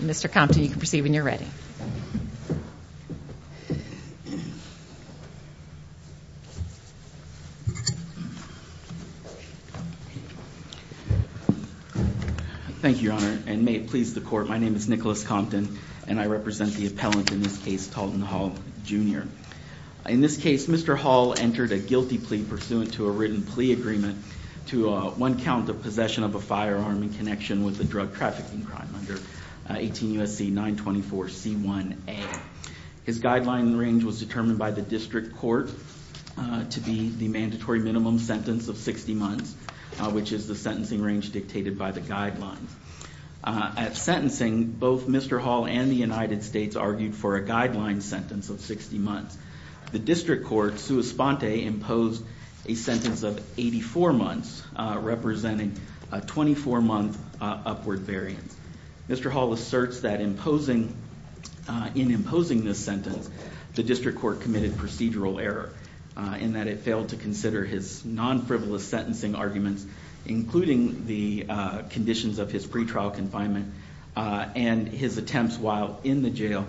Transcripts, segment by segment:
Mr. Compton, you can proceed when you're ready. Thank you, Your Honor, and may it please the Court, my name is Nicholas Compton, and I represent the appellant in this case, Talten Hall, Jr. In this case, Mr. Hall entered a guilty plea pursuant to a written plea agreement to one count of possession of a firearm in connection with a drug trafficking crime under 18 U.S.C. 924 C1A. His guideline range was determined by the district court to be the mandatory minimum sentence of 60 months, which is the sentencing range dictated by the guidelines. At sentencing, both Mr. Hall and the United States argued for a guideline sentence of 60 months. The district court, sua sponte, imposed a sentence of 84 months, representing a 24-month upward variance. Mr. Hall asserts that in imposing this sentence, the district court committed procedural error in that it failed to consider his non-frivolous sentencing arguments, including the conditions of his pretrial confinement and his attempts while in the jail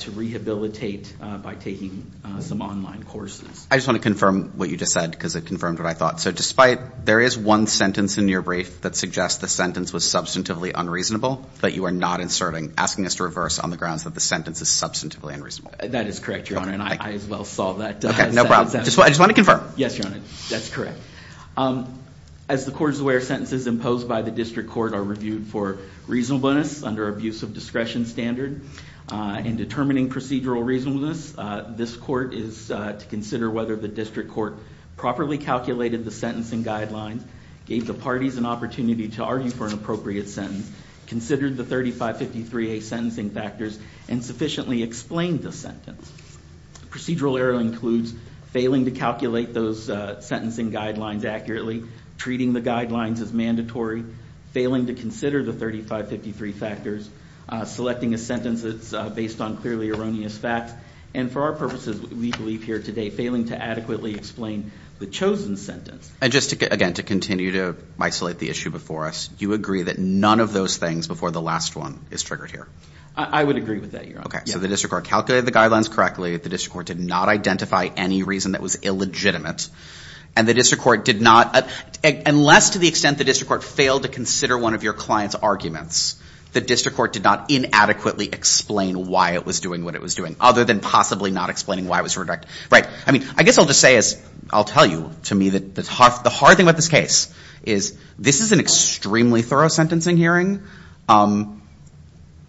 to rehabilitate by taking some online courses. I just want to confirm what you just said because it confirmed what I thought. So despite there is one sentence in your brief that suggests the sentence was substantively unreasonable, but you are not inserting, asking us to reverse on the grounds that the sentence is substantively unreasonable. That is correct, Your Honor, and I as well saw that. Okay, no problem. I just want to confirm. Yes, Your Honor, that's correct. As the court is aware, sentences imposed by the district court are reviewed for reasonableness under abuse of discretion standard. In determining procedural reasonableness, this court is to consider whether the district court properly calculated the sentencing guidelines, gave the parties an opportunity to argue for an appropriate sentence, considered the 3553A sentencing factors, and sufficiently explained the sentence. Procedural error includes failing to calculate those sentencing guidelines accurately, treating the guidelines as mandatory, failing to consider the 3553 factors, selecting a sentence that's based on clearly erroneous facts, and for our purposes, we believe here today, failing to adequately explain the chosen sentence. And just again, to continue to isolate the issue before us, you agree that none of those things before the last one is triggered here? I would agree with that, Your Honor. Okay, so the district court calculated the guidelines correctly. The district court did not identify any reason that was illegitimate. And the district court did not, unless to the extent the district court failed to consider one of your client's arguments, the district court did not inadequately explain why it was doing what it was doing, other than possibly not explaining why it was redirected. Right, I mean, I guess I'll just say, as I'll tell you, to me, the hard thing about this case is this is an extremely thorough sentencing hearing.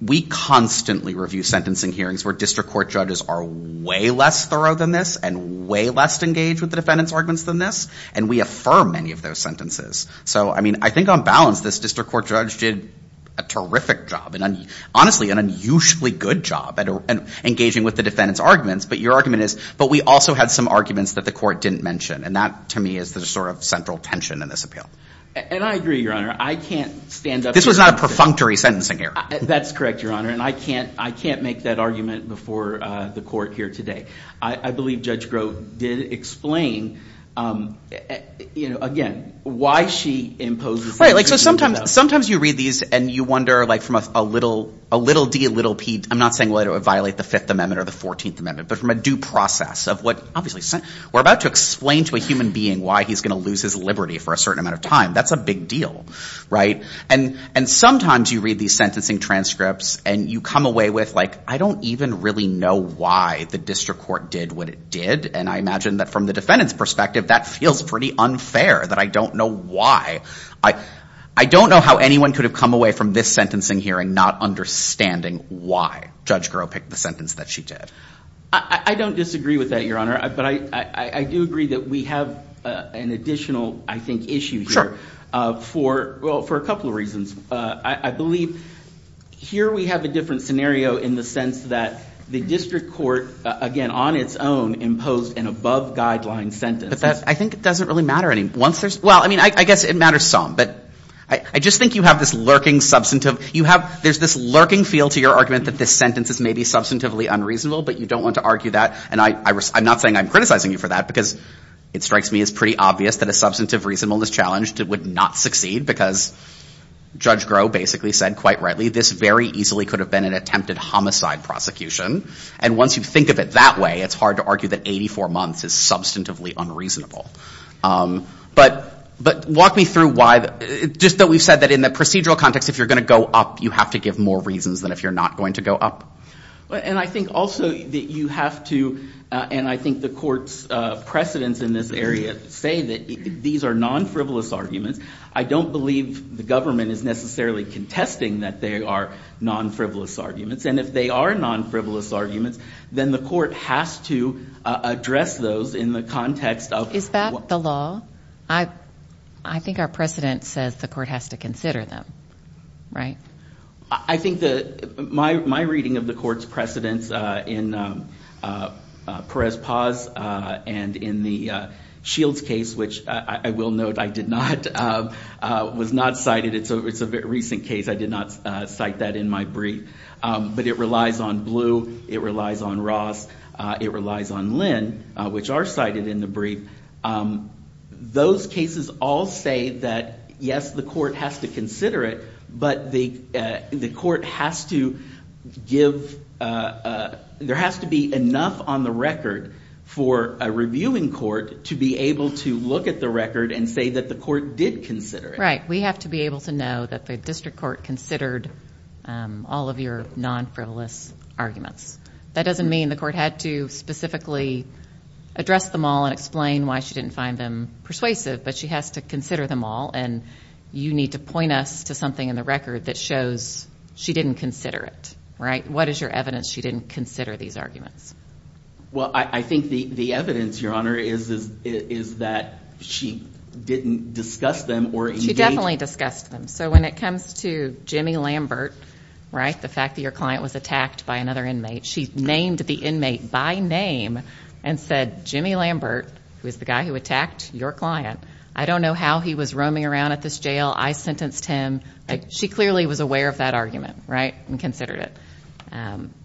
We constantly review sentencing hearings where district court judges are way less thorough than this and way less engaged with the defendant's arguments than this, and we affirm many of those sentences. So I mean, I think on balance, this district court judge did a terrific job, and honestly, an unusually good job at engaging with the defendant's arguments. But your argument is, but we also had some arguments that the court didn't mention, and that, to me, is the sort of central tension in this appeal. And I agree, Your Honor. I can't stand up here. This was not a perfunctory sentencing hearing. That's correct, Your Honor. And I can't make that argument before the court here today. I believe Judge Grove did explain, again, why she imposes sentencing. Right, so sometimes you read these, and you wonder from a little d, little p, I'm not saying, well, it would violate the Fifth Amendment or the Fourteenth Amendment, but from a due process of what, obviously, we're about to explain to a human being why he's going to lose his liberty for a certain amount of time. That's a big deal, right? And sometimes you read these sentencing transcripts, and you come away with, like, I don't even really know why the district court did what it did. And I imagine that, from the defendant's perspective, that feels pretty unfair, that I don't know why. I don't know how anyone could have come away from this sentencing hearing not understanding why Judge Grove picked the sentence that she did. I don't disagree with that, Your Honor. But I do agree that we have an additional, I think, issue here for, well, for a couple of reasons. I believe here we have a different scenario in the sense that the district court, again, on its own, imposed an above-guideline sentence. But that, I think, doesn't really matter any. Once there's, well, I mean, I guess it matters some, but I just think you have this lurking substantive, you have, there's this lurking feel to your argument that this sentence is maybe substantively unreasonable, but you don't want to argue that. And I'm not saying I'm criticizing you for that, because it strikes me as pretty obvious that a substantive reasonableness challenge would not succeed, because Judge Grove basically said, quite rightly, this very easily could have been an attempted homicide prosecution. And once you think of it that way, it's hard to argue that 84 months is substantively unreasonable. But walk me through why, just that we've said that in the procedural context, if you're going to go up, you have to give more reasons than if you're not going to go up. And I think also that you have to, and I think the court's precedents in this area say that these are non-frivolous arguments. I don't believe the government is necessarily contesting that they are non-frivolous arguments. And if they are non-frivolous arguments, then the court has to address those in the context of- Is that the law? I think our precedent says the court has to consider them, right? I think that my reading of the court's precedents in Perez-Paz and in the Shields case, which I will note I did not, was not cited. It's a recent case. I did not cite that in my brief. But it relies on Blue. It relies on Ross. It relies on Lynn, which are cited in the brief. Those cases all say that, yes, the court has to consider it, but the court has to give, there has to be enough on the record for a reviewing court to be able to look at the record and say that the court did consider it. Right. We have to be able to know that the district court considered all of your non-frivolous arguments. That doesn't mean the court had to specifically address them all and explain why she didn't find them persuasive, but she has to consider them all. And you need to point us to something in the record that shows she didn't consider it, right? What is your evidence she didn't consider these arguments? Well, I think the evidence, Your Honor, is that she didn't discuss them or- She definitely discussed them. So when it comes to Jimmy Lambert, right, the fact that your client was attacked by another inmate, she named the inmate by name and said, Jimmy Lambert, who was the guy who attacked your client, I don't know how he was roaming around at this jail. I sentenced him. She clearly was aware of that argument, right, and considered it.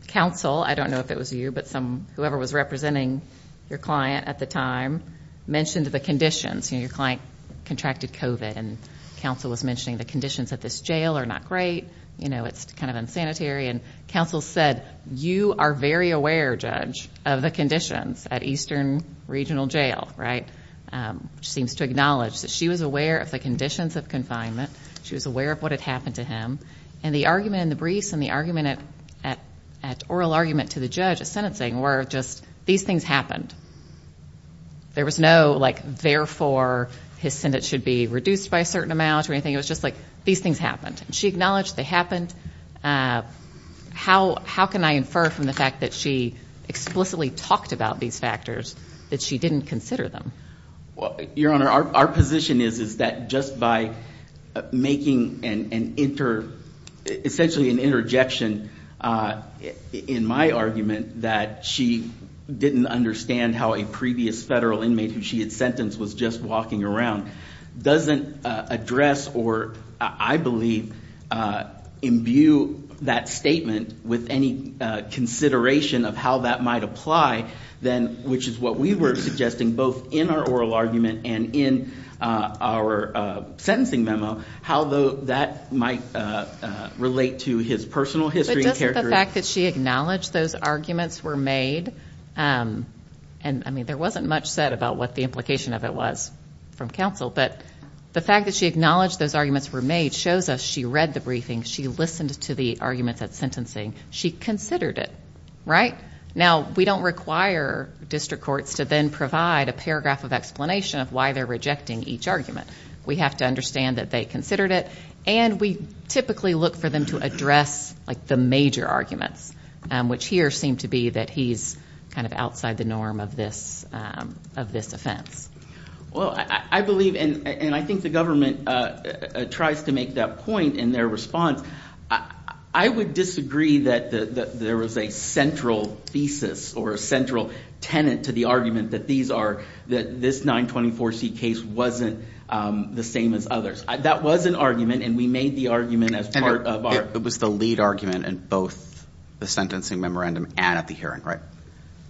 Counsel, I don't know if it was you, but whoever was representing your client at the time mentioned the conditions. Your client contracted COVID and counsel was mentioning the conditions at this jail are not great. You know, it's kind of unsanitary. And counsel said, you are very aware, Judge, of the conditions at Eastern Regional Jail, right, which seems to acknowledge that she was aware of the conditions of confinement. She was aware of what had happened to him. And the argument in the briefs and the argument at oral argument to the judge at sentencing were just, these things happened. There was no, like, therefore his sentence should be reduced by a certain amount or anything. It was just like, these things happened. She acknowledged they happened. How can I infer from the fact that she explicitly talked about these factors that she didn't consider them? Well, Your Honor, our position is that just by making an, essentially an interjection in my argument that she didn't understand how a previous federal inmate who she had imbued that statement with any consideration of how that might apply, then, which is what we were suggesting, both in our oral argument and in our sentencing memo, how that might relate to his personal history. But doesn't the fact that she acknowledged those arguments were made, and I mean, there wasn't much said about what the implication of it was from counsel, but the fact that she acknowledged those arguments were made shows us she read the briefing, she listened to the arguments at sentencing, she considered it, right? Now, we don't require district courts to then provide a paragraph of explanation of why they're rejecting each argument. We have to understand that they considered it, and we typically look for them to address, like, the major arguments, which here seem to be that he's kind of outside the norm of this, of this offense. Well, I believe, and I think the government tries to make that point in their response. I would disagree that there was a central thesis or a central tenet to the argument that these are, that this 924c case wasn't the same as others. That was an argument, and we made the argument as part of our... It was the lead argument in both the sentencing memorandum and at the hearing, right?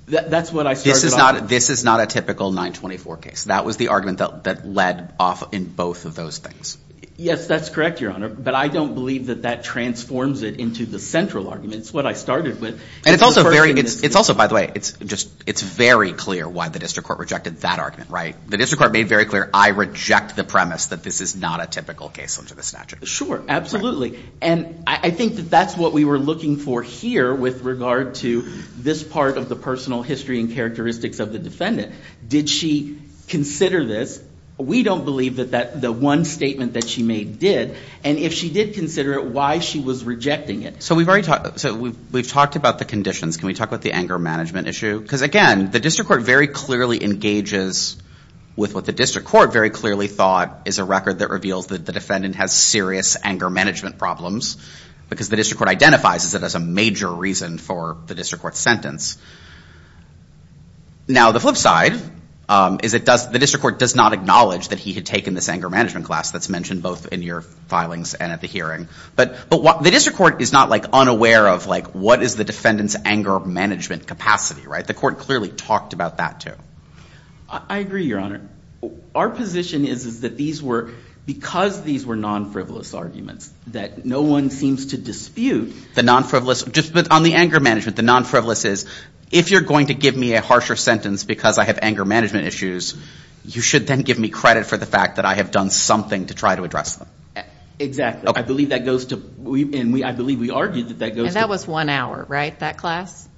That's what I started off with. This is not a typical 924 case. That was the argument that led off in both of those things. Yes, that's correct, Your Honor. But I don't believe that that transforms it into the central argument. It's what I started with. And it's also very, it's also, by the way, it's just, it's very clear why the district court rejected that argument, right? The district court made very clear, I reject the premise that this is not a typical case under the statute. Sure, absolutely. And I think that that's what we were looking for here with regard to this part of the personal history and characteristics of the defendant. Did she consider this? We don't believe that the one statement that she made did, and if she did consider it, why she was rejecting it. So we've already talked, so we've talked about the conditions. Can we talk about the anger management issue? Because again, the district court very clearly engages with what the district court very clearly thought is a record that reveals that the defendant has serious anger management problems because the district court identifies it as a major reason for the district court to reject the sentence. Now, the flip side is it does, the district court does not acknowledge that he had taken this anger management class that's mentioned both in your filings and at the hearing. But, but what, the district court is not like unaware of like what is the defendant's anger management capacity, right? The court clearly talked about that too. I agree, Your Honor. Our position is, is that these were, because these were non-frivolous arguments that no one seems to dispute. The non-frivolous, just on the anger management, the non-frivolous is, if you're going to give me a harsher sentence because I have anger management issues, you should then give me credit for the fact that I have done something to try to address them. Exactly. I believe that goes to, and I believe we argued that that goes to. And that was one hour, right? That class?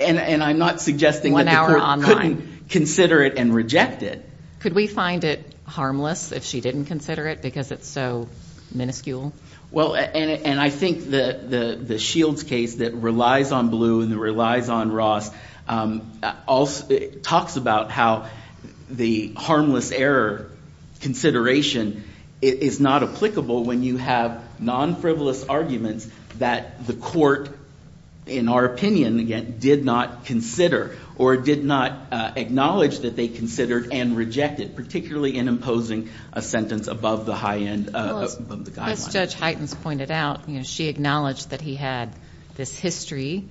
And I'm not suggesting that the court couldn't consider it and reject it. Could we find it harmless if she didn't consider it because it's so miniscule? Well, and, and I think the, the, the Shields case that relies on Blue and that relies on Ross also talks about how the harmless error consideration is not applicable when you have non-frivolous arguments that the court, in our opinion, again, did not consider or did not acknowledge that they considered and rejected, particularly in imposing a sentence above the high end, above the guideline. As Judge Heitens pointed out, you know, she acknowledged that he had this history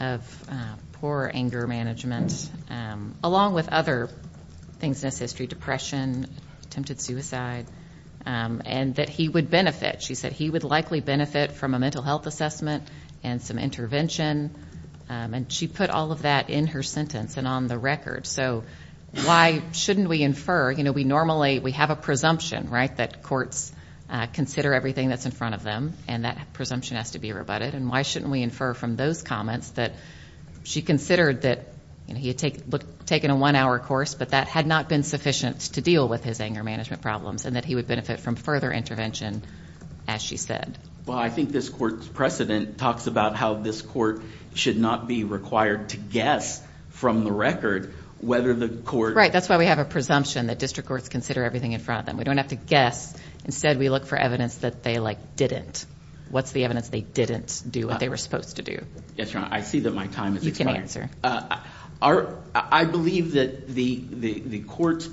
of poor anger management, along with other things in his history, depression, attempted suicide, and that he would benefit. She said he would likely benefit from a mental health assessment and some intervention. And she put all of that in her sentence and on the record. So why shouldn't we infer, you know, we normally, we have a presumption, right? That courts consider everything that's in front of them and that presumption has to be rebutted. And why shouldn't we infer from those comments that she considered that he had taken a one hour course, but that had not been sufficient to deal with his anger management problems and that he would benefit from further intervention, as she said. Well, I think this court's precedent talks about how this court should not be required to guess from the record whether the court. Right. That's why we have a presumption that district courts consider everything in front of them. We don't have to guess. Instead, we look for evidence that they, like, didn't. What's the evidence they didn't do what they were supposed to do? Yes, Your Honor. I see that my time is expiring. You can answer. I believe that the court's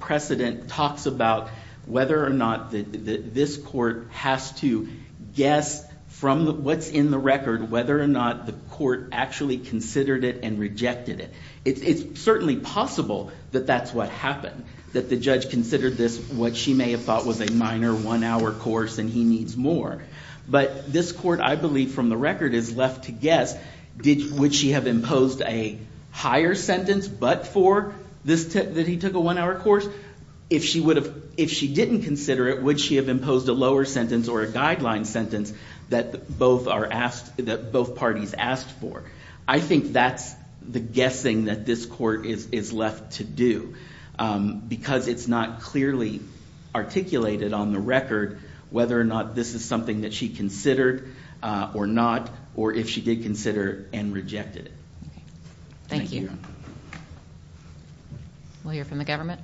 precedent talks about whether or not this court has to guess from what's in the record, whether or not the court actually considered it and rejected it. It's certainly possible that that's what happened, that the judge considered this what she may have thought was a minor one hour course, and he needs more. But this court, I believe from the record, is left to guess. Would she have imposed a higher sentence but for this tip that he took a one hour course? If she didn't consider it, would she have imposed a lower sentence or a guideline sentence that both parties asked for? I think that's the guessing that this court is left to do, because it's not clearly articulated on the record whether or not this is something that she considered or not, or if she did consider and rejected it. Thank you. We'll hear from the government.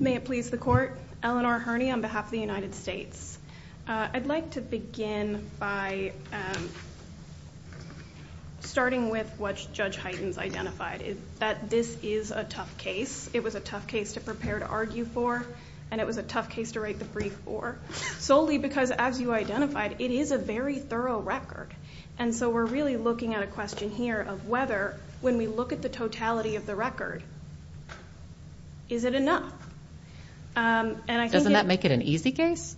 May it please the court. Eleanor Herney on behalf of the United States. I'd like to begin by starting with what Judge Heightens identified, that this is a tough case. It was a tough case to prepare to argue for, and it was a tough case to write the brief for, solely because as you identified, it is a very thorough record. And so we're really looking at a question here of whether, when we look at the totality of the record, is it enough? Doesn't that make it an easy case?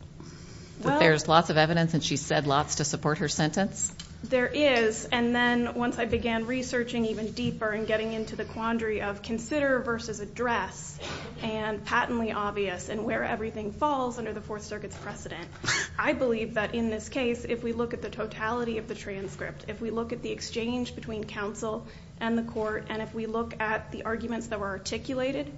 There's lots of evidence and she said lots to support her sentence. There is. And then once I began researching even deeper and getting into the quandary of consider versus address and patently obvious and where everything falls under the Fourth Circuit's precedent, I believe that in this case, if we look at the totality of the transcript, if we look at the exchange between counsel and the court, and if we look at the arguments that were articulated,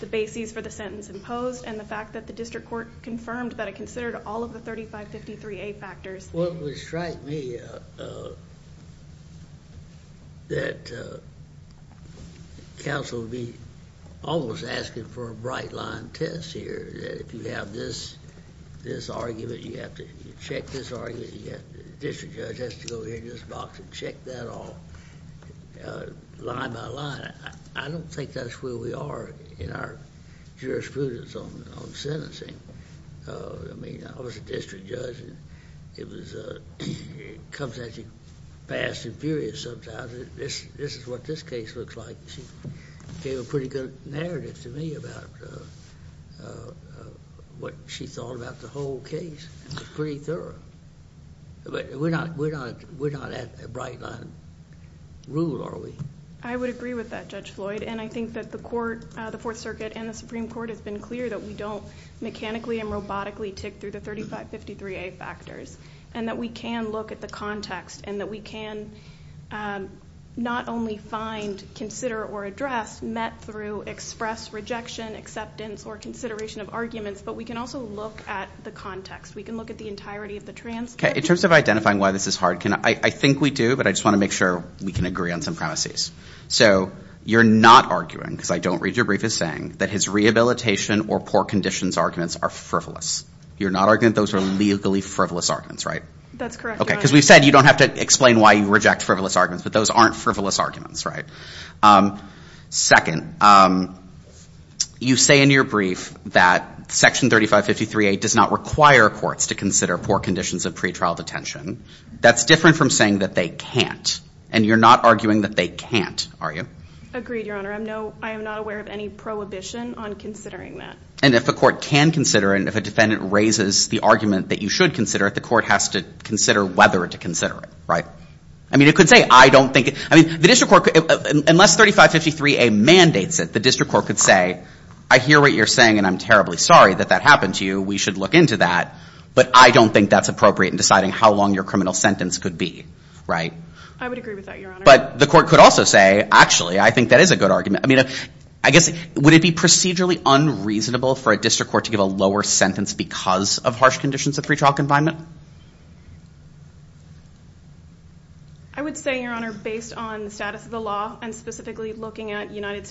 the bases for the sentence imposed, and the fact that the district court confirmed that it considered all of the 3553A factors. Well, it would strike me that counsel would be almost asking for a bright line test here, that if you have this argument, you have to check this argument, you have the district judge has to go in this box and check that all line by line. I don't think that's where we are in our jurisprudence on sentencing. I mean, I was a district judge and it comes at you fast and furious sometimes. This is what this case looks like. She gave a pretty good narrative to me about what she thought about the whole case. It was pretty thorough. But we're not at a bright line rule, are we? I would agree with that, Judge Floyd. And I think that the court, the Fourth Circuit and the Supreme Court, has been clear that we don't mechanically and robotically tick through the 3553A factors. And that we can look at the context and that we can not only find, consider, or address met through express rejection, acceptance, or consideration of arguments, but we can also look at the context. We can look at the entirety of the transcript. In terms of identifying why this is hard, I think we do, but I just want to make sure we can agree on some premises. So you're not arguing, because I don't read your brief as saying, that his rehabilitation or poor conditions arguments are frivolous. You're not arguing those are legally frivolous arguments, right? That's correct, Your Honor. Okay, because we've said you don't have to explain why you reject frivolous arguments, but those aren't frivolous arguments, right? Second, you say in your brief that Section 3553A does not require courts to consider poor conditions of pretrial detention. That's different from saying that they can't. And you're not arguing that they can't, are you? Agreed, Your Honor. I'm no, I am not aware of any prohibition on considering that. And if a court can consider it, if a defendant raises the argument that you should consider it, the court has to consider whether to consider it, right? I mean, it could say, I don't think, I mean, the district court, unless 3553A mandates it, the district court could say, I hear what you're saying, and I'm terribly sorry that that happened to you. We should look into that. But I don't think that's appropriate in deciding how long your criminal sentence could be, right? I would agree with that, Your Honor. But the court could also say, actually, I think that is a good argument. I mean, I guess, would it be procedurally unreasonable for a district court to give a lower sentence because of harsh conditions of pretrial confinement? I would say, Your Honor, based on the status of the law, and specifically looking at United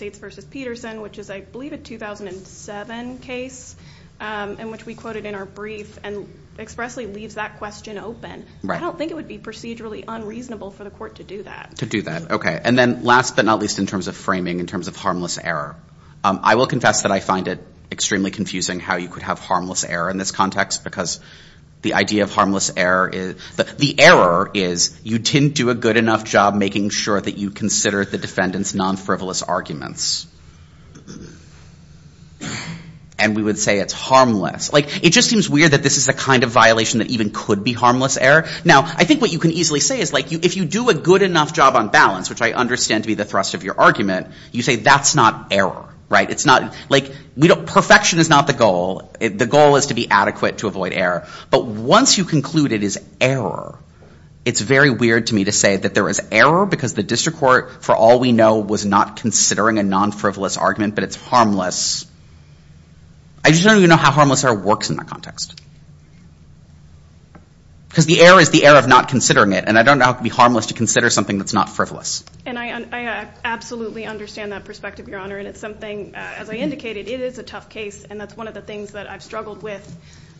and expressly leaves that question open, I don't think it would be procedurally unreasonable for the court to do that. To do that. OK. And then last but not least, in terms of framing, in terms of harmless error, I will confess that I find it extremely confusing how you could have harmless error in this context, because the idea of harmless error is, the error is you didn't do a good enough job making sure that you consider the defendant's non-frivolous arguments. And we would say it's harmless. It just seems weird that this is the kind of violation that even could be harmless error. Now, I think what you can easily say is, if you do a good enough job on balance, which I understand to be the thrust of your argument, you say that's not error, right? Perfection is not the goal. The goal is to be adequate to avoid error. But once you conclude it is error, it's very weird to me to say that there is error, because the district court, for all we know, was not considering a non-frivolous argument, but it's harmless. I just don't even know how harmless error works in that context. Because the error is the error of not considering it, and I don't know how it could be harmless to consider something that's not frivolous. And I absolutely understand that perspective, Your Honor. And it's something, as I indicated, it is a tough case, and that's one of the things that I've struggled with.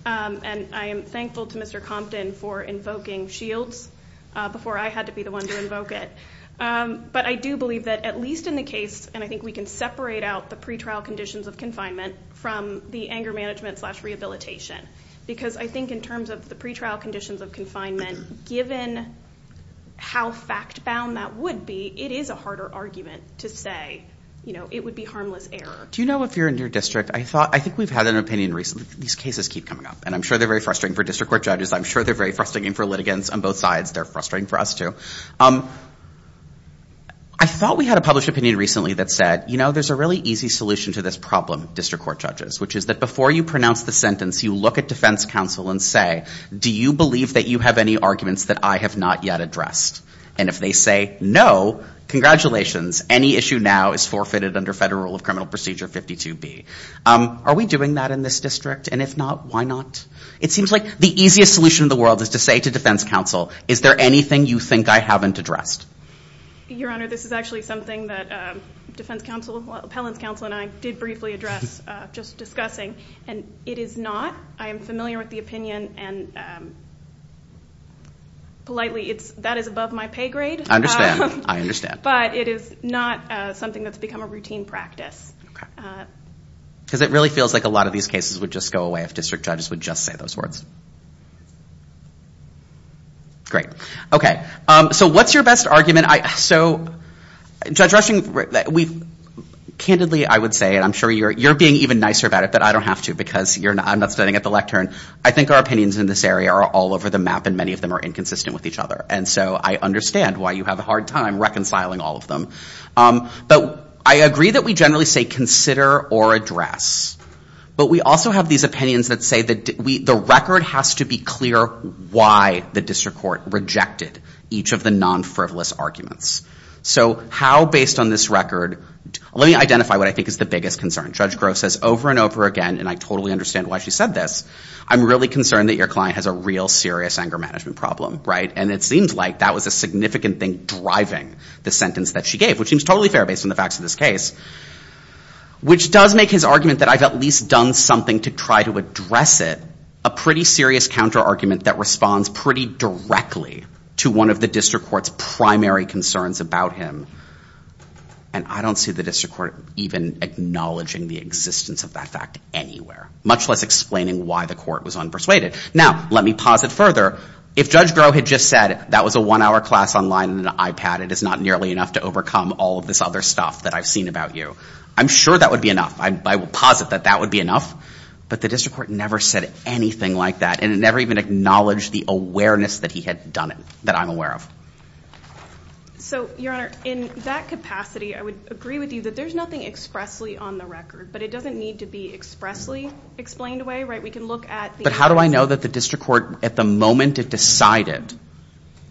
And I am thankful to Mr. Compton for invoking shields before I had to be the one to invoke it. But I do believe that, at least in the case, and I think we can separate out the pre-trial conditions of confinement from the anger management slash rehabilitation. Because I think in terms of the pre-trial conditions of confinement, given how fact-bound that would be, it is a harder argument to say, you know, it would be harmless error. Do you know if you're in your district, I thought, I think we've had an opinion recently, these cases keep coming up, and I'm sure they're very frustrating for district court judges. I'm sure they're very frustrating for litigants on both sides. They're frustrating for us too. I thought we had a published opinion recently that said, you know, there's a really easy solution to this problem, district court judges, which is that before you pronounce the sentence, you look at defense counsel and say, do you believe that you have any arguments that I have not yet addressed? And if they say no, congratulations, any issue now is forfeited under federal rule of criminal procedure 52B. Are we doing that in this district? And if not, why not? It seems like the easiest solution in the world is to say to defense counsel, is there anything you think I haven't addressed? Your Honor, this is actually something that defense counsel, appellant's counsel and I did briefly address just discussing, and it is not. I am familiar with the opinion and politely, that is above my pay grade. I understand. I understand. But it is not something that's become a routine practice. Because it really feels like a lot of these cases would just go away if district judges would just say those words. Great. OK. So what's your best argument? So Judge Rushing, we've, candidly, I would say, and I'm sure you're being even nicer about it, but I don't have to because I'm not standing at the lectern. I think our opinions in this area are all over the map and many of them are inconsistent with each other. And so I understand why you have a hard time reconciling all of them. But I agree that we generally say consider or address. But we also have these opinions that say that the record has to be clear why the district court rejected each of the non-frivolous arguments. So how, based on this record, let me identify what I think is the biggest concern. Judge Grove says over and over again, and I totally understand why she said this, I'm really concerned that your client has a real serious anger management problem, right? And it seems like that was a significant thing driving the sentence that she gave, which seems totally fair based on the facts of this case. Which does make his argument that I've at least done something to try to address it a pretty serious counter-argument that responds pretty directly to one of the district court's primary concerns about him. And I don't see the district court even acknowledging the existence of that fact anywhere, much less explaining why the court was unpersuaded. Now, let me posit further. If Judge Grove had just said that was a one-hour class online and an iPad, it is not nearly enough to overcome all of this other stuff that I've seen about you. I'm sure that would be enough. I will posit that that would be enough. But the district court never said anything like that, and it never even acknowledged the awareness that he had done it, that I'm aware of. So, your honor, in that capacity, I would agree with you that there's nothing expressly on the record, but it doesn't need to be expressly explained away, right? We can look at the- But how do I know that the district court, at the moment it decided,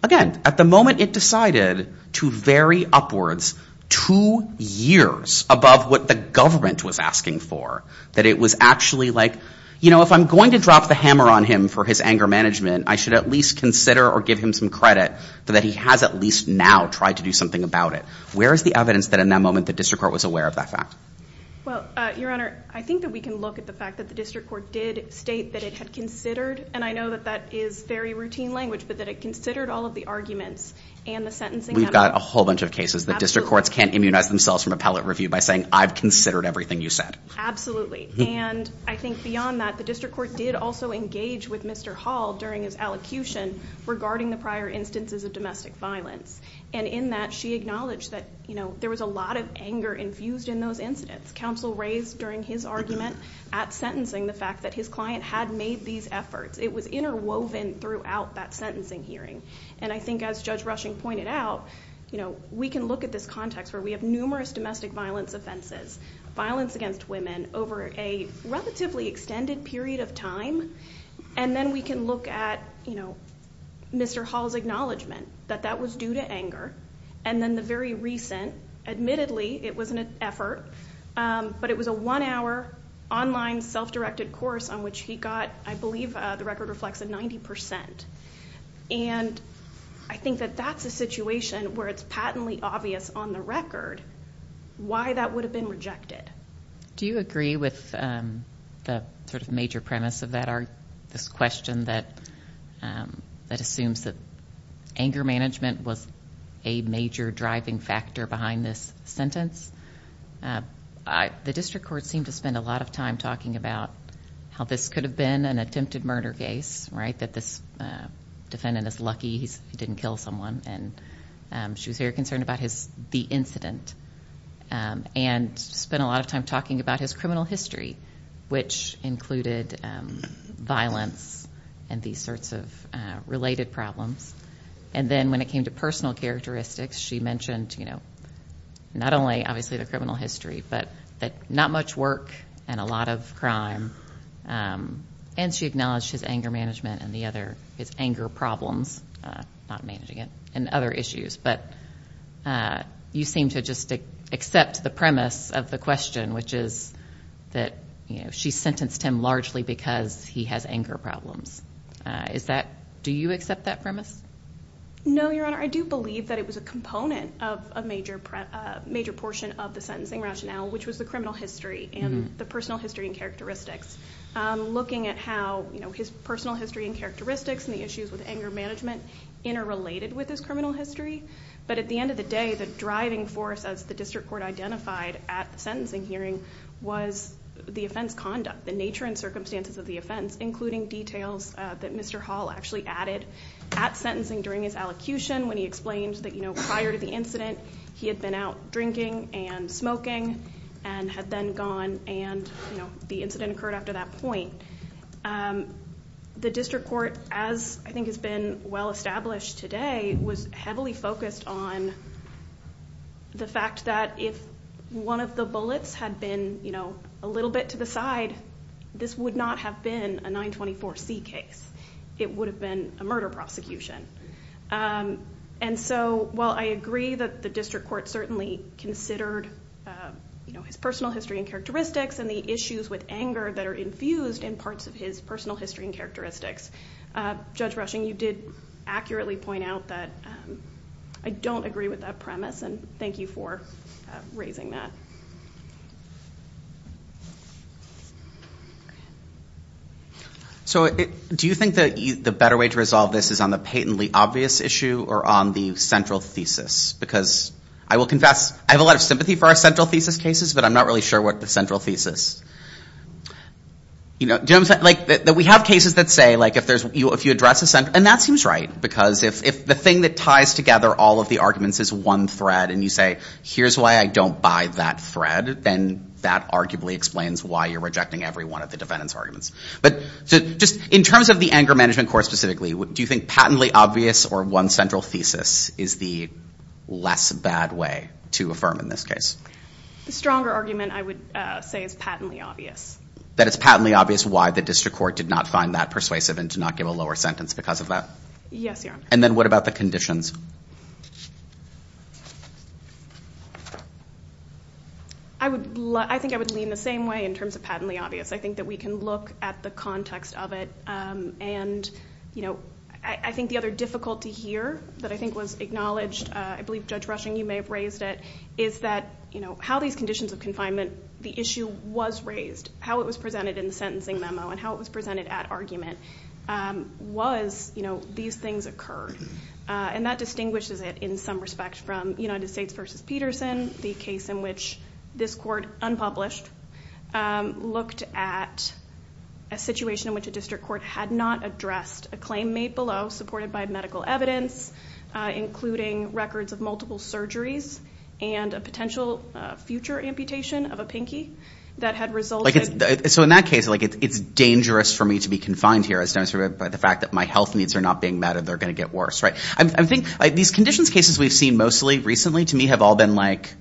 again, at the moment it decided to vary upwards two years above what the government was asking for, that it was actually like, you know, if I'm going to drop the hammer on him for his anger management, I should at least consider or give him some credit for that he has at least now tried to do something about it. Where is the evidence that in that moment the district court was aware of that fact? Well, your honor, I think that we can look at the fact that the district court did state that it had considered, and I know that that is very routine language, but that it considered all of the arguments and the sentencing. We've got a whole bunch of cases that district courts can't immunize themselves from appellate review by saying, I've considered everything you said. Absolutely. And I think beyond that, the district court did also engage with Mr. Hall during his allocution regarding the prior instances of domestic violence. And in that, she acknowledged that, you know, there was a lot of anger infused in those incidents. Counsel raised during his argument at sentencing the fact that his client had made these efforts. It was interwoven throughout that sentencing hearing. And I think as Judge Rushing pointed out, you know, we can look at this context where we have numerous domestic violence offenses, violence against women over a relatively extended period of time. And then we can look at, you know, Mr. Hall's acknowledgement that that was due to anger. And then the very recent, admittedly, it wasn't an effort, but it was a one hour online self-directed course on which he got, I believe the record reflects a 90%. And I think that that's a situation where it's patently obvious on the record why that would have been rejected. Do you agree with the sort of major premise of that? Or this question that assumes that anger management was a major driving factor behind this sentence? The district court seemed to spend a lot of time talking about how this could have been an attempted murder case, right? That this defendant is lucky he didn't kill someone. And she was very concerned about his, the incident. And spent a lot of time talking about his criminal history, which included violence and these sorts of related problems. And then when it came to personal characteristics, she mentioned, you know, not only obviously the criminal history, but that not much work and a lot of crime. And she acknowledged his anger management and the other, his anger problems, not managing it, and other issues. But you seem to just accept the premise of the question, which is that, you know, she sentenced him largely because he has anger problems. Is that, do you accept that premise? No, Your Honor. I do believe that it was a component of a major portion of the sentencing rationale, which was the criminal history and the personal history and characteristics. Looking at how, you know, his personal history and characteristics and the issues with anger management interrelated with his criminal history. But at the end of the day, the driving force as the district court identified at the sentencing hearing was the offense conduct. The nature and circumstances of the offense, including details that Mr. Hall actually added at sentencing during his allocution. When he explained that, you know, prior to the incident, he had been out drinking and smoking and had then gone. And, you know, the incident occurred after that point. And the district court, as I think has been well established today, was heavily focused on the fact that if one of the bullets had been, you know, a little bit to the side, this would not have been a 924 C case. It would have been a murder prosecution. And so while I agree that the district court certainly considered, you know, his personal history and characteristics and the issues with anger that are infused in parts of his personal history and characteristics, Judge Rushing, you did accurately point out that I don't agree with that premise. And thank you for raising that. So do you think that the better way to resolve this is on the patently obvious issue or on the central thesis? Because I will confess, I have a lot of sympathy for our central thesis cases, but I'm not really sure what the central thesis. You know, like we have cases that say, like, if there's, if you address a central, and that seems right, because if the thing that ties together all of the arguments is one thread and you say, here's why I don't buy that thread, then that arguably explains why you're rejecting every one of the defendant's arguments. But just in terms of the anger management court specifically, do you think patently obvious or one central thesis is the less bad way to affirm in this case? The stronger argument I would say is patently obvious. That it's patently obvious why the district court did not find that persuasive and did not give a lower sentence because of that? Yes, Your Honor. And then what about the conditions? I would, I think I would lean the same way in terms of patently obvious. I think that we can look at the context of it. And, you know, I think the other difficulty here that I think was acknowledged, I believe, Judge Rushing, you may have raised it, is that, you know, how these conditions of confinement, the issue was raised, how it was presented in the sentencing memo, and how it was presented at argument, was, you know, these things occurred. And that distinguishes it in some respect from United States v. Peterson, the case in which this court, unpublished, looked at a situation in which a district court had not addressed a claim made below, supported by medical evidence, including records of multiple surgeries, and a potential future amputation of a pinky that had resulted... So in that case, like, it's dangerous for me to be confined here, as demonstrated by the fact that my health needs are not being met, and they're going to get worse, right? I think these conditions cases we've seen mostly recently, to me, have all been like,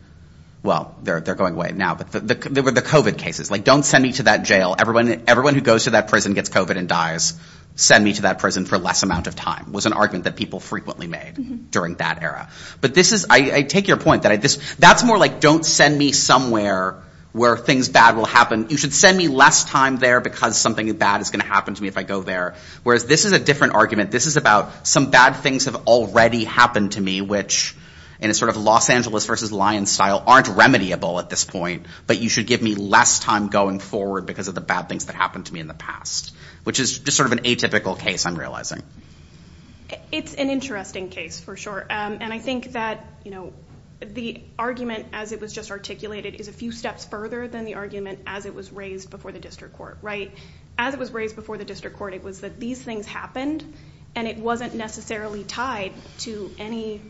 well, they're going away now. But the COVID cases, like, don't send me to that jail. Everyone who goes to that prison gets COVID and dies. Send me to that prison for less amount of time, was an argument that people frequently made during that era. But this is, I take your point, that I just, that's more like, don't send me somewhere where things bad will happen. You should send me less time there, because something bad is going to happen to me if I go there. Whereas this is a different argument. This is about some bad things have already happened to me, which, in a sort of Los Angeles v. Lyons style, aren't remediable at this point. But you should give me less time going forward, because of the bad things that happened to me in the past. Which is just sort of an atypical case, I'm realizing. It's an interesting case, for sure. And I think that, you know, the argument, as it was just articulated, is a few steps further than the argument, as it was raised before the district court, right? As it was raised before the district court, it was that these things happened, and it wasn't necessarily tied to any,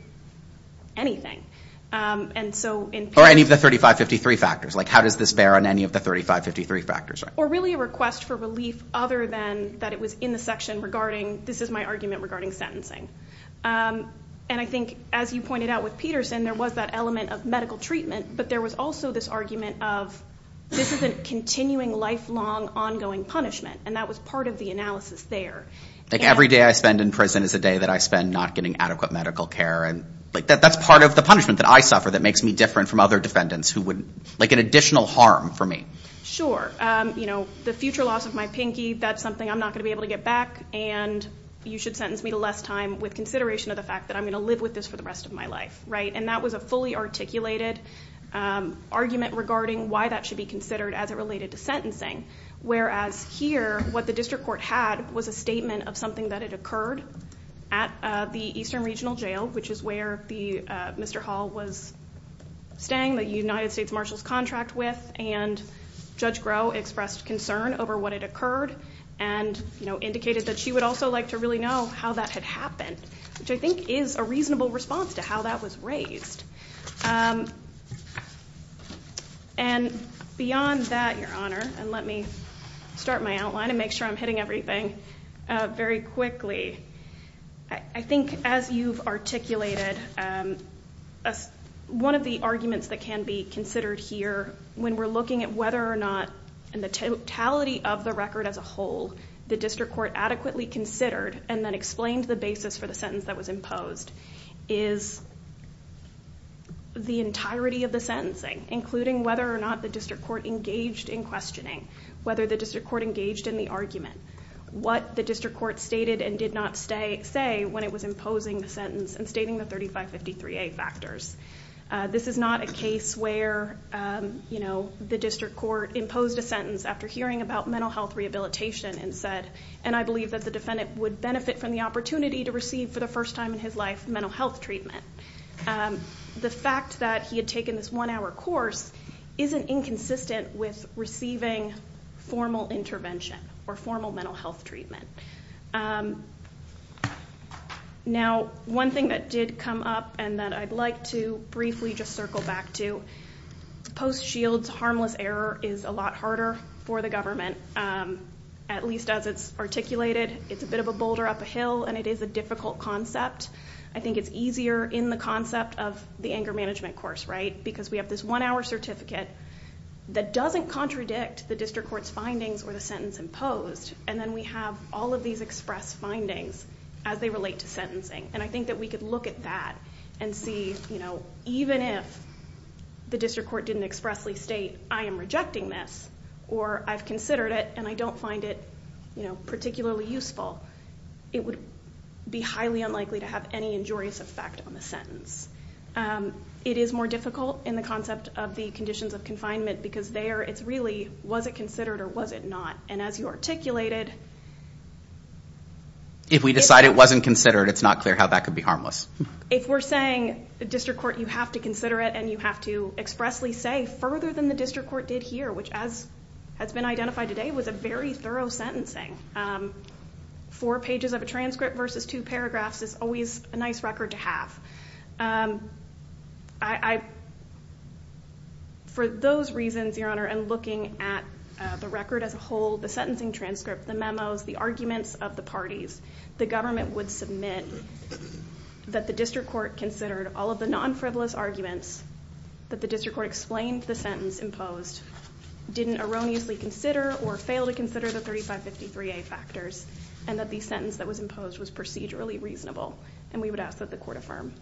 anything. And so in- Or any of the 3553 factors. Like, how does this bear on any of the 3553 factors? Or really a request for relief, other than that it was in the section regarding, this is my argument regarding sentencing. And I think, as you pointed out with Peterson, there was that element of medical treatment. But there was also this argument of, this is a continuing, lifelong, ongoing punishment. And that was part of the analysis there. Like, every day I spend in prison is a day that I spend not getting adequate medical care. And like, that's part of the punishment that I suffer, that makes me different from other defendants, who would, like, an additional harm for me. Sure, you know, the future loss of my pinky, that's something I'm not going to be able to get back. And you should sentence me to less time with consideration of the fact that I'm going to live with this for the rest of my life, right? And that was a fully articulated argument regarding why that should be considered as it related to sentencing. Whereas here, what the district court had was a statement of something that had occurred at the Eastern Regional Jail, which is where the, Mr. Hall was staying, the United States Marshal's contract with. And Judge Groh expressed concern over what had occurred. And, you know, indicated that she would also like to really know how that had happened, which I think is a reasonable response to how that was raised. And beyond that, Your Honor, and let me start my outline and make sure I'm hitting everything very quickly. I think as you've articulated, one of the arguments that can be considered here when we're looking at whether or not, in the totality of the record as a whole, the district court adequately considered and then explained the basis for the sentence that was imposed is the entirety of the sentencing, including whether or not the district court engaged in questioning, whether the district court engaged in the argument, what the district court stated and did not say when it was imposing the sentence and stating the 3553A factors. This is not a case where, you know, the district court imposed a sentence after hearing about mental health rehabilitation and said, and I believe that the defendant would benefit from the opportunity to receive for the first time in his life mental health treatment. The fact that he had taken this one hour course isn't inconsistent with receiving formal intervention or formal mental health treatment. Now, one thing that did come up and that I'd like to briefly just circle back to, Post Shields harmless error is a lot harder for the government, at least as it's articulated. It's a bit of a boulder up a hill and it is a difficult concept. I think it's easier in the concept of the anger management course, right? Because we have this one hour certificate that doesn't contradict the district court's findings or the sentence imposed. And then we have all of these express findings as they relate to sentencing. And I think that we could look at that and see even if the district court didn't expressly state, I am rejecting this, or I've considered it and I don't find it particularly useful, it would be highly unlikely to have any injurious effect on the sentence. It is more difficult in the concept of the conditions of confinement because there it's really, was it considered or was it not? And as you articulated, If we decide it wasn't considered, it's not clear how that could be harmless. If we're saying the district court, you have to consider it and you have to expressly say further than the district court did here, which as has been identified today, was a very thorough sentencing. Four pages of a transcript versus two paragraphs is always a nice record to have. For those reasons, Your Honor, and looking at the record as a whole, the sentencing transcript, the memos, the arguments of the parties, the government would submit that the district court considered all of the non-frivolous arguments that the district court explained the sentence imposed, didn't erroneously consider or fail to consider the 3553A factors and that the sentence that was imposed was procedurally reasonable and we would ask that the court affirm.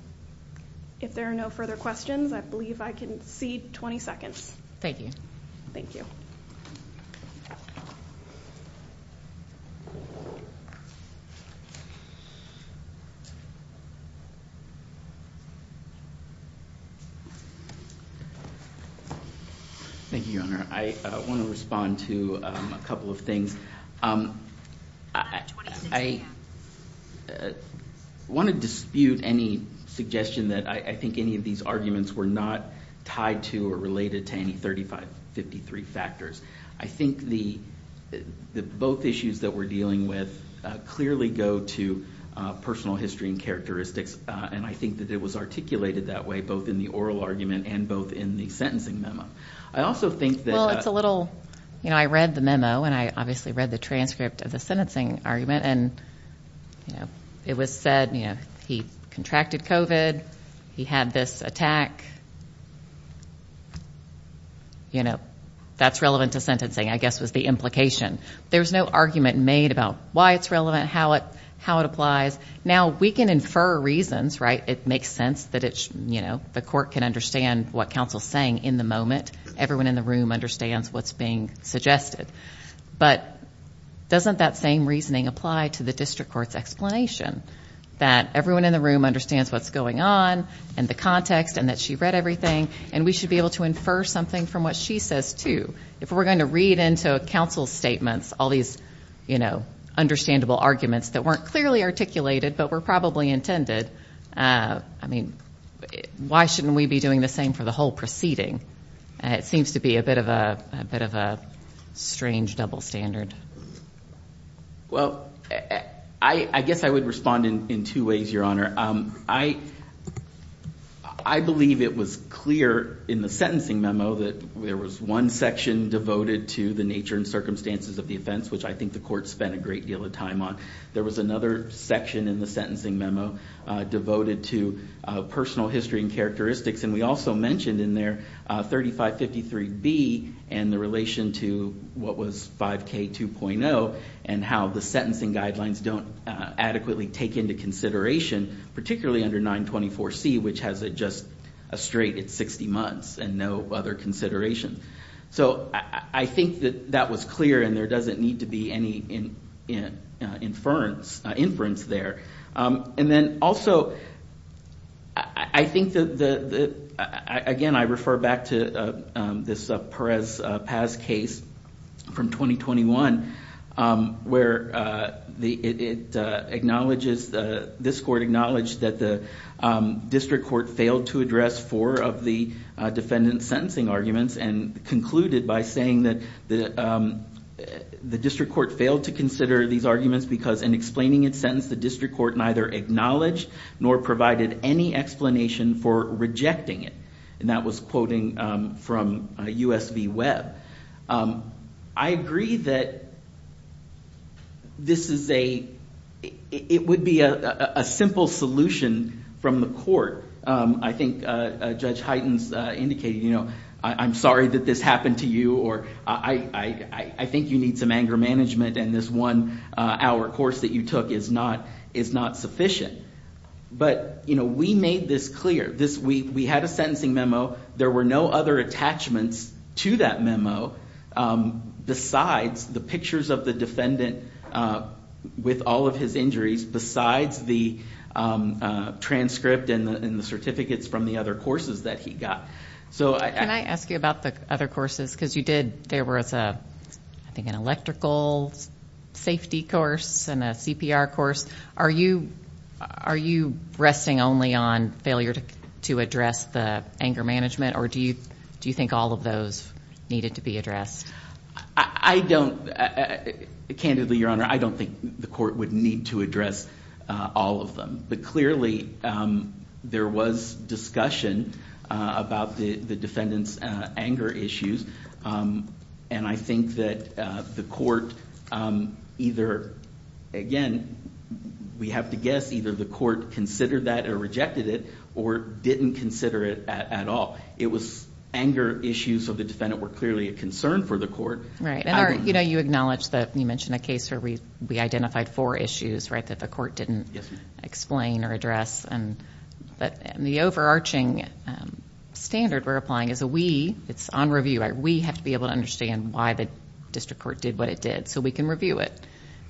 If there are no further questions, I believe I can cede 20 seconds. Thank you. Thank you. Thank you, Your Honor. I want to respond to a couple of things. I want to dispute any suggestion that I think any of these arguments were not tied to or related to any 3553 factors. I think the both issues that we're dealing with clearly go to personal history and characteristics and I think that it was articulated that way, both in the oral argument and both in the sentencing memo. I also think that- Well, it's a little, you know, I read the memo and I obviously read the transcript of the sentencing argument and, you know, it was said, you know, he contracted COVID, he had this attack, you know, that's relevant to sentencing, I guess was the implication. There was no argument made about why it's relevant, how it applies. Now, we can infer reasons, right? It makes sense that it's, you know, the court can understand what counsel's saying in the moment. Everyone in the room understands what's being suggested. But doesn't that same reasoning apply to the district court's explanation? That everyone in the room understands what's going on and the context and that she read everything and we should be able to infer something from what she says too. If we're going to read into counsel's statements, all these, you know, understandable arguments that weren't clearly articulated, but were probably intended. I mean, why shouldn't we be doing the same for the whole proceeding? And it seems to be a bit of a, a bit of a strange double standard. Well, I guess I would respond in two ways, Your Honor. I believe it was clear in the sentencing memo that there was one section devoted to the nature and circumstances of the offense, which I think the court spent a great deal of time on. There was another section in the sentencing memo devoted to personal history and characteristics. And we also mentioned in there 3553B and the relation to what was 5K 2.0 and how the sentencing guidelines don't adequately take into consideration, particularly under 924C, which has just a straight at 60 months and no other consideration. So I think that that was clear and there doesn't need to be any inference there. And then also, I think that, again, I refer back to this Perez-Paz case from 2021, where this court acknowledged that the district court failed to address four of the defendant's sentencing arguments and concluded by saying that the district court failed to consider these arguments because in explaining its sentence, the district court neither acknowledged nor provided any explanation for rejecting it. And that was quoting from USV Webb. I agree that this is a, it would be a simple solution from the court. I think Judge Heightens indicated, you know, I'm sorry that this happened to you or I think you need some anger management and this one hour course that you took is not sufficient. But, you know, we made this clear this week. We had a sentencing memo. There were no other attachments to that memo besides the pictures of the defendant with all of his injuries, besides the transcript and the certificates from the other courses that he got. So can I ask you about the other courses? Because you did, there was a, I think, an electrical safety course and a CPR course. Are you resting only on failure to address the anger management? Or do you think all of those needed to be addressed? I don't. Candidly, Your Honor, I don't think the court would need to address all of them. But clearly there was discussion about the defendant's anger issues. And I think that the court either, again, we have to guess either the court considered that or rejected it or didn't consider it at all. It was anger issues. So the defendant were clearly a concern for the court. Right. And, you know, you acknowledge that you mentioned a case where we identified four issues, right, that the court didn't explain or address. But the overarching standard we're applying is a we, it's on review, we have to be able to understand why the district court did what it did so we can review it.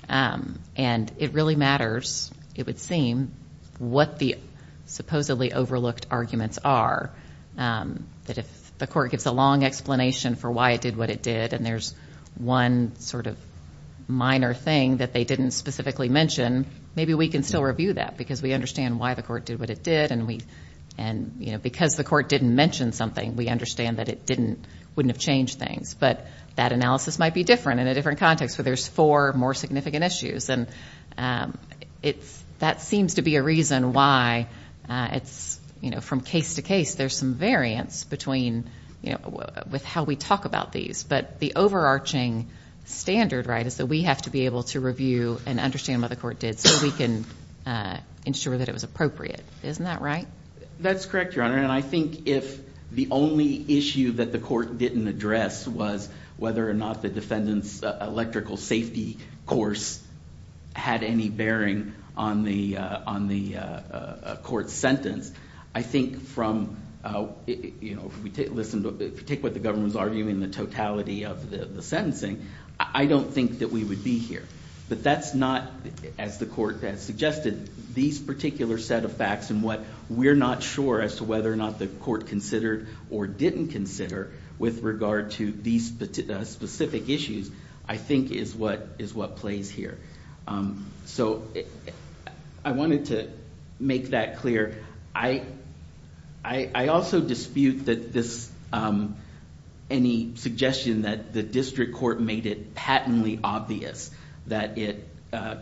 And it really matters, it would seem, what the supposedly overlooked arguments are. That if the court gives a long explanation for why it did what it did and there's one sort of minor thing that they didn't specifically mention, maybe we can still review that because we understand why the court did what it did. And we, and, you know, because the court didn't mention something, we understand that it didn't, wouldn't have changed things. But that analysis might be different in a different context where there's four more significant issues. And it's, that seems to be a reason why it's, you know, from case to case, there's some variance between, you know, with how we talk about these. But the overarching standard, right, is that we have to be able to review and understand what the court did so we can ensure that it was appropriate. Isn't that right? That's correct, Your Honor. And I think if the only issue that the court didn't address was whether or not the defendant's electrical safety course had any bearing on the, on the court sentence, I think from, you know, if we take, listen, if we take what the government was arguing, the totality of the sentencing, I don't think that we would be here. But that's not, as the court has suggested, these particular set of facts and what we're not sure as to whether or not the court considered or didn't consider with regard to these specific issues, I think is what, is what plays here. So I wanted to make that clear. I, I also dispute that this, any suggestion that the district court made it patently obvious that it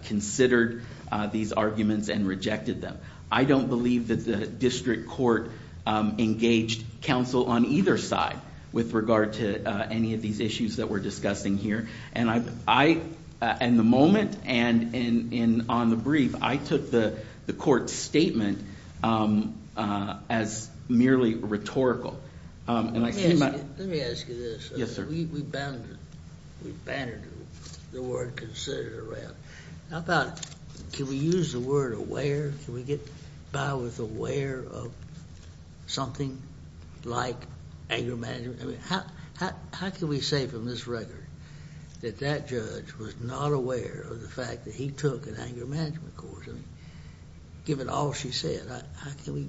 considered these arguments and rejected them. I don't believe that the district court engaged counsel on either side with regard to any of these issues that we're discussing here. And I, I, in the moment and in, in, on the brief, I took the, the court statement as merely rhetorical. And I see my- Let me ask you this. Yes, sir. We banded, we banded the word considered around. How about, can we use the word aware? Can we get Bowers aware of something like anger management? I mean, how, how, how can we say from this record that that judge was not aware of the fact that he took an anger management course? I mean, given all she said, how can we?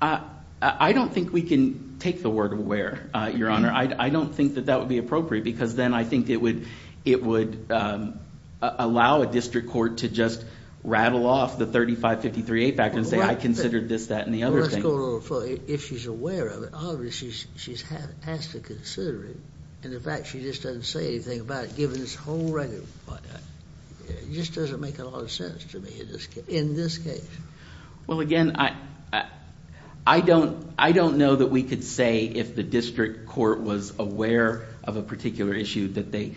I, I don't think we can take the word aware, Your Honor. I don't think that that would be appropriate because then I think it would, it would allow a district court to just rattle off the 3553A factor and say, I considered this, that, and the other thing. Let's go a little further. If she's aware of it, obviously she's, she's had, has to consider it. And in fact, she just doesn't say anything about it, given this whole record. It just doesn't make a lot of sense to me in this, in this case. Well, again, I, I don't, I don't know that we could say if the district court was aware of a particular issue that they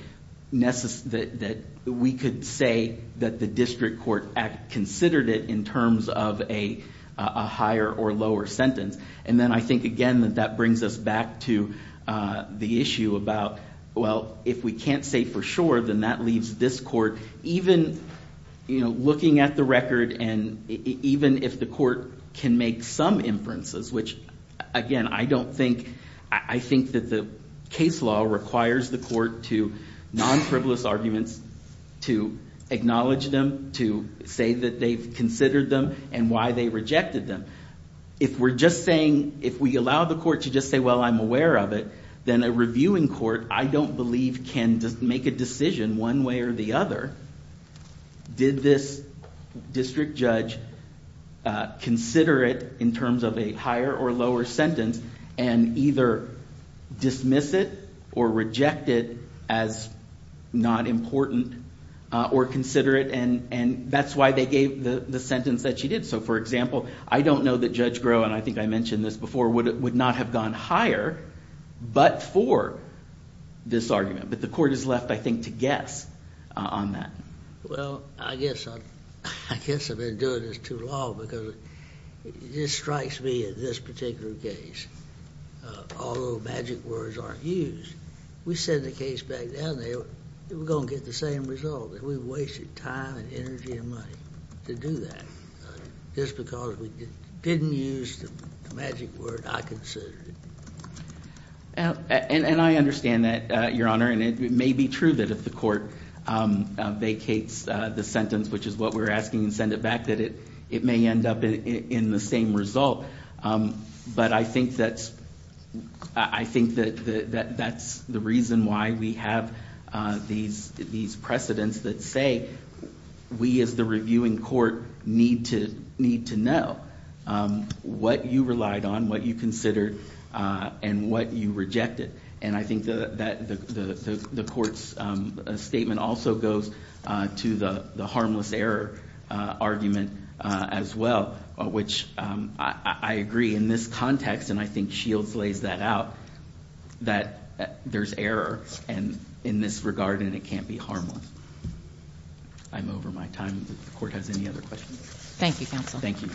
necessary, that we could say that the district court considered it in terms of a higher or lower sentence. And then I think, again, that brings us back to the issue about, well, if we can't say for sure, then that leaves this court, even, you know, looking at the record and even if the court can make some inferences, which, again, I don't think, I think that the case law requires the court to non-frivolous arguments, to acknowledge them, to say that they've considered them and why they rejected them. If we're just saying, if we allow the court to just say, well, I'm aware of it, then a reviewing court, I don't believe can make a decision one way or the other. Did this district judge consider it in terms of a higher or lower sentence and either dismiss it or reject it as not important or consider it? And that's why they gave the sentence that she did. So, for example, I don't know that Judge Groh, and I think I mentioned this before, would not have gone higher but for this argument. But the court is left, I think, to guess on that. Well, I guess I've been doing this too long because it just strikes me in this particular case, although magic words aren't used, we send the case back down there, we're going to get the same result that we've wasted time and energy and money to do that just because we didn't use the magic word I considered. And I understand that, Your Honor, and it may be true that if the court vacates the sentence, which is what we're asking, and send it back, it may end up in the same result. But I think that's the reason why we have these precedents that say we, as the reviewing court, need to know what you relied on, what you considered, and what you rejected. And I think the court's statement also goes to the harmless error argument as well, which I agree in this context, and I think Shields lays that out, that there's error in this regard and it can't be harmless. I'm over my time. The court has any other questions? Thank you, counsel. Thank you.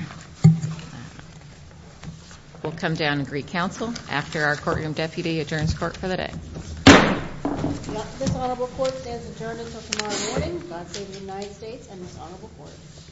We'll come down and greet counsel after our courtroom deputy adjourns court for the day. This honorable court stands adjourned until tomorrow morning. God save the United States and this honorable court.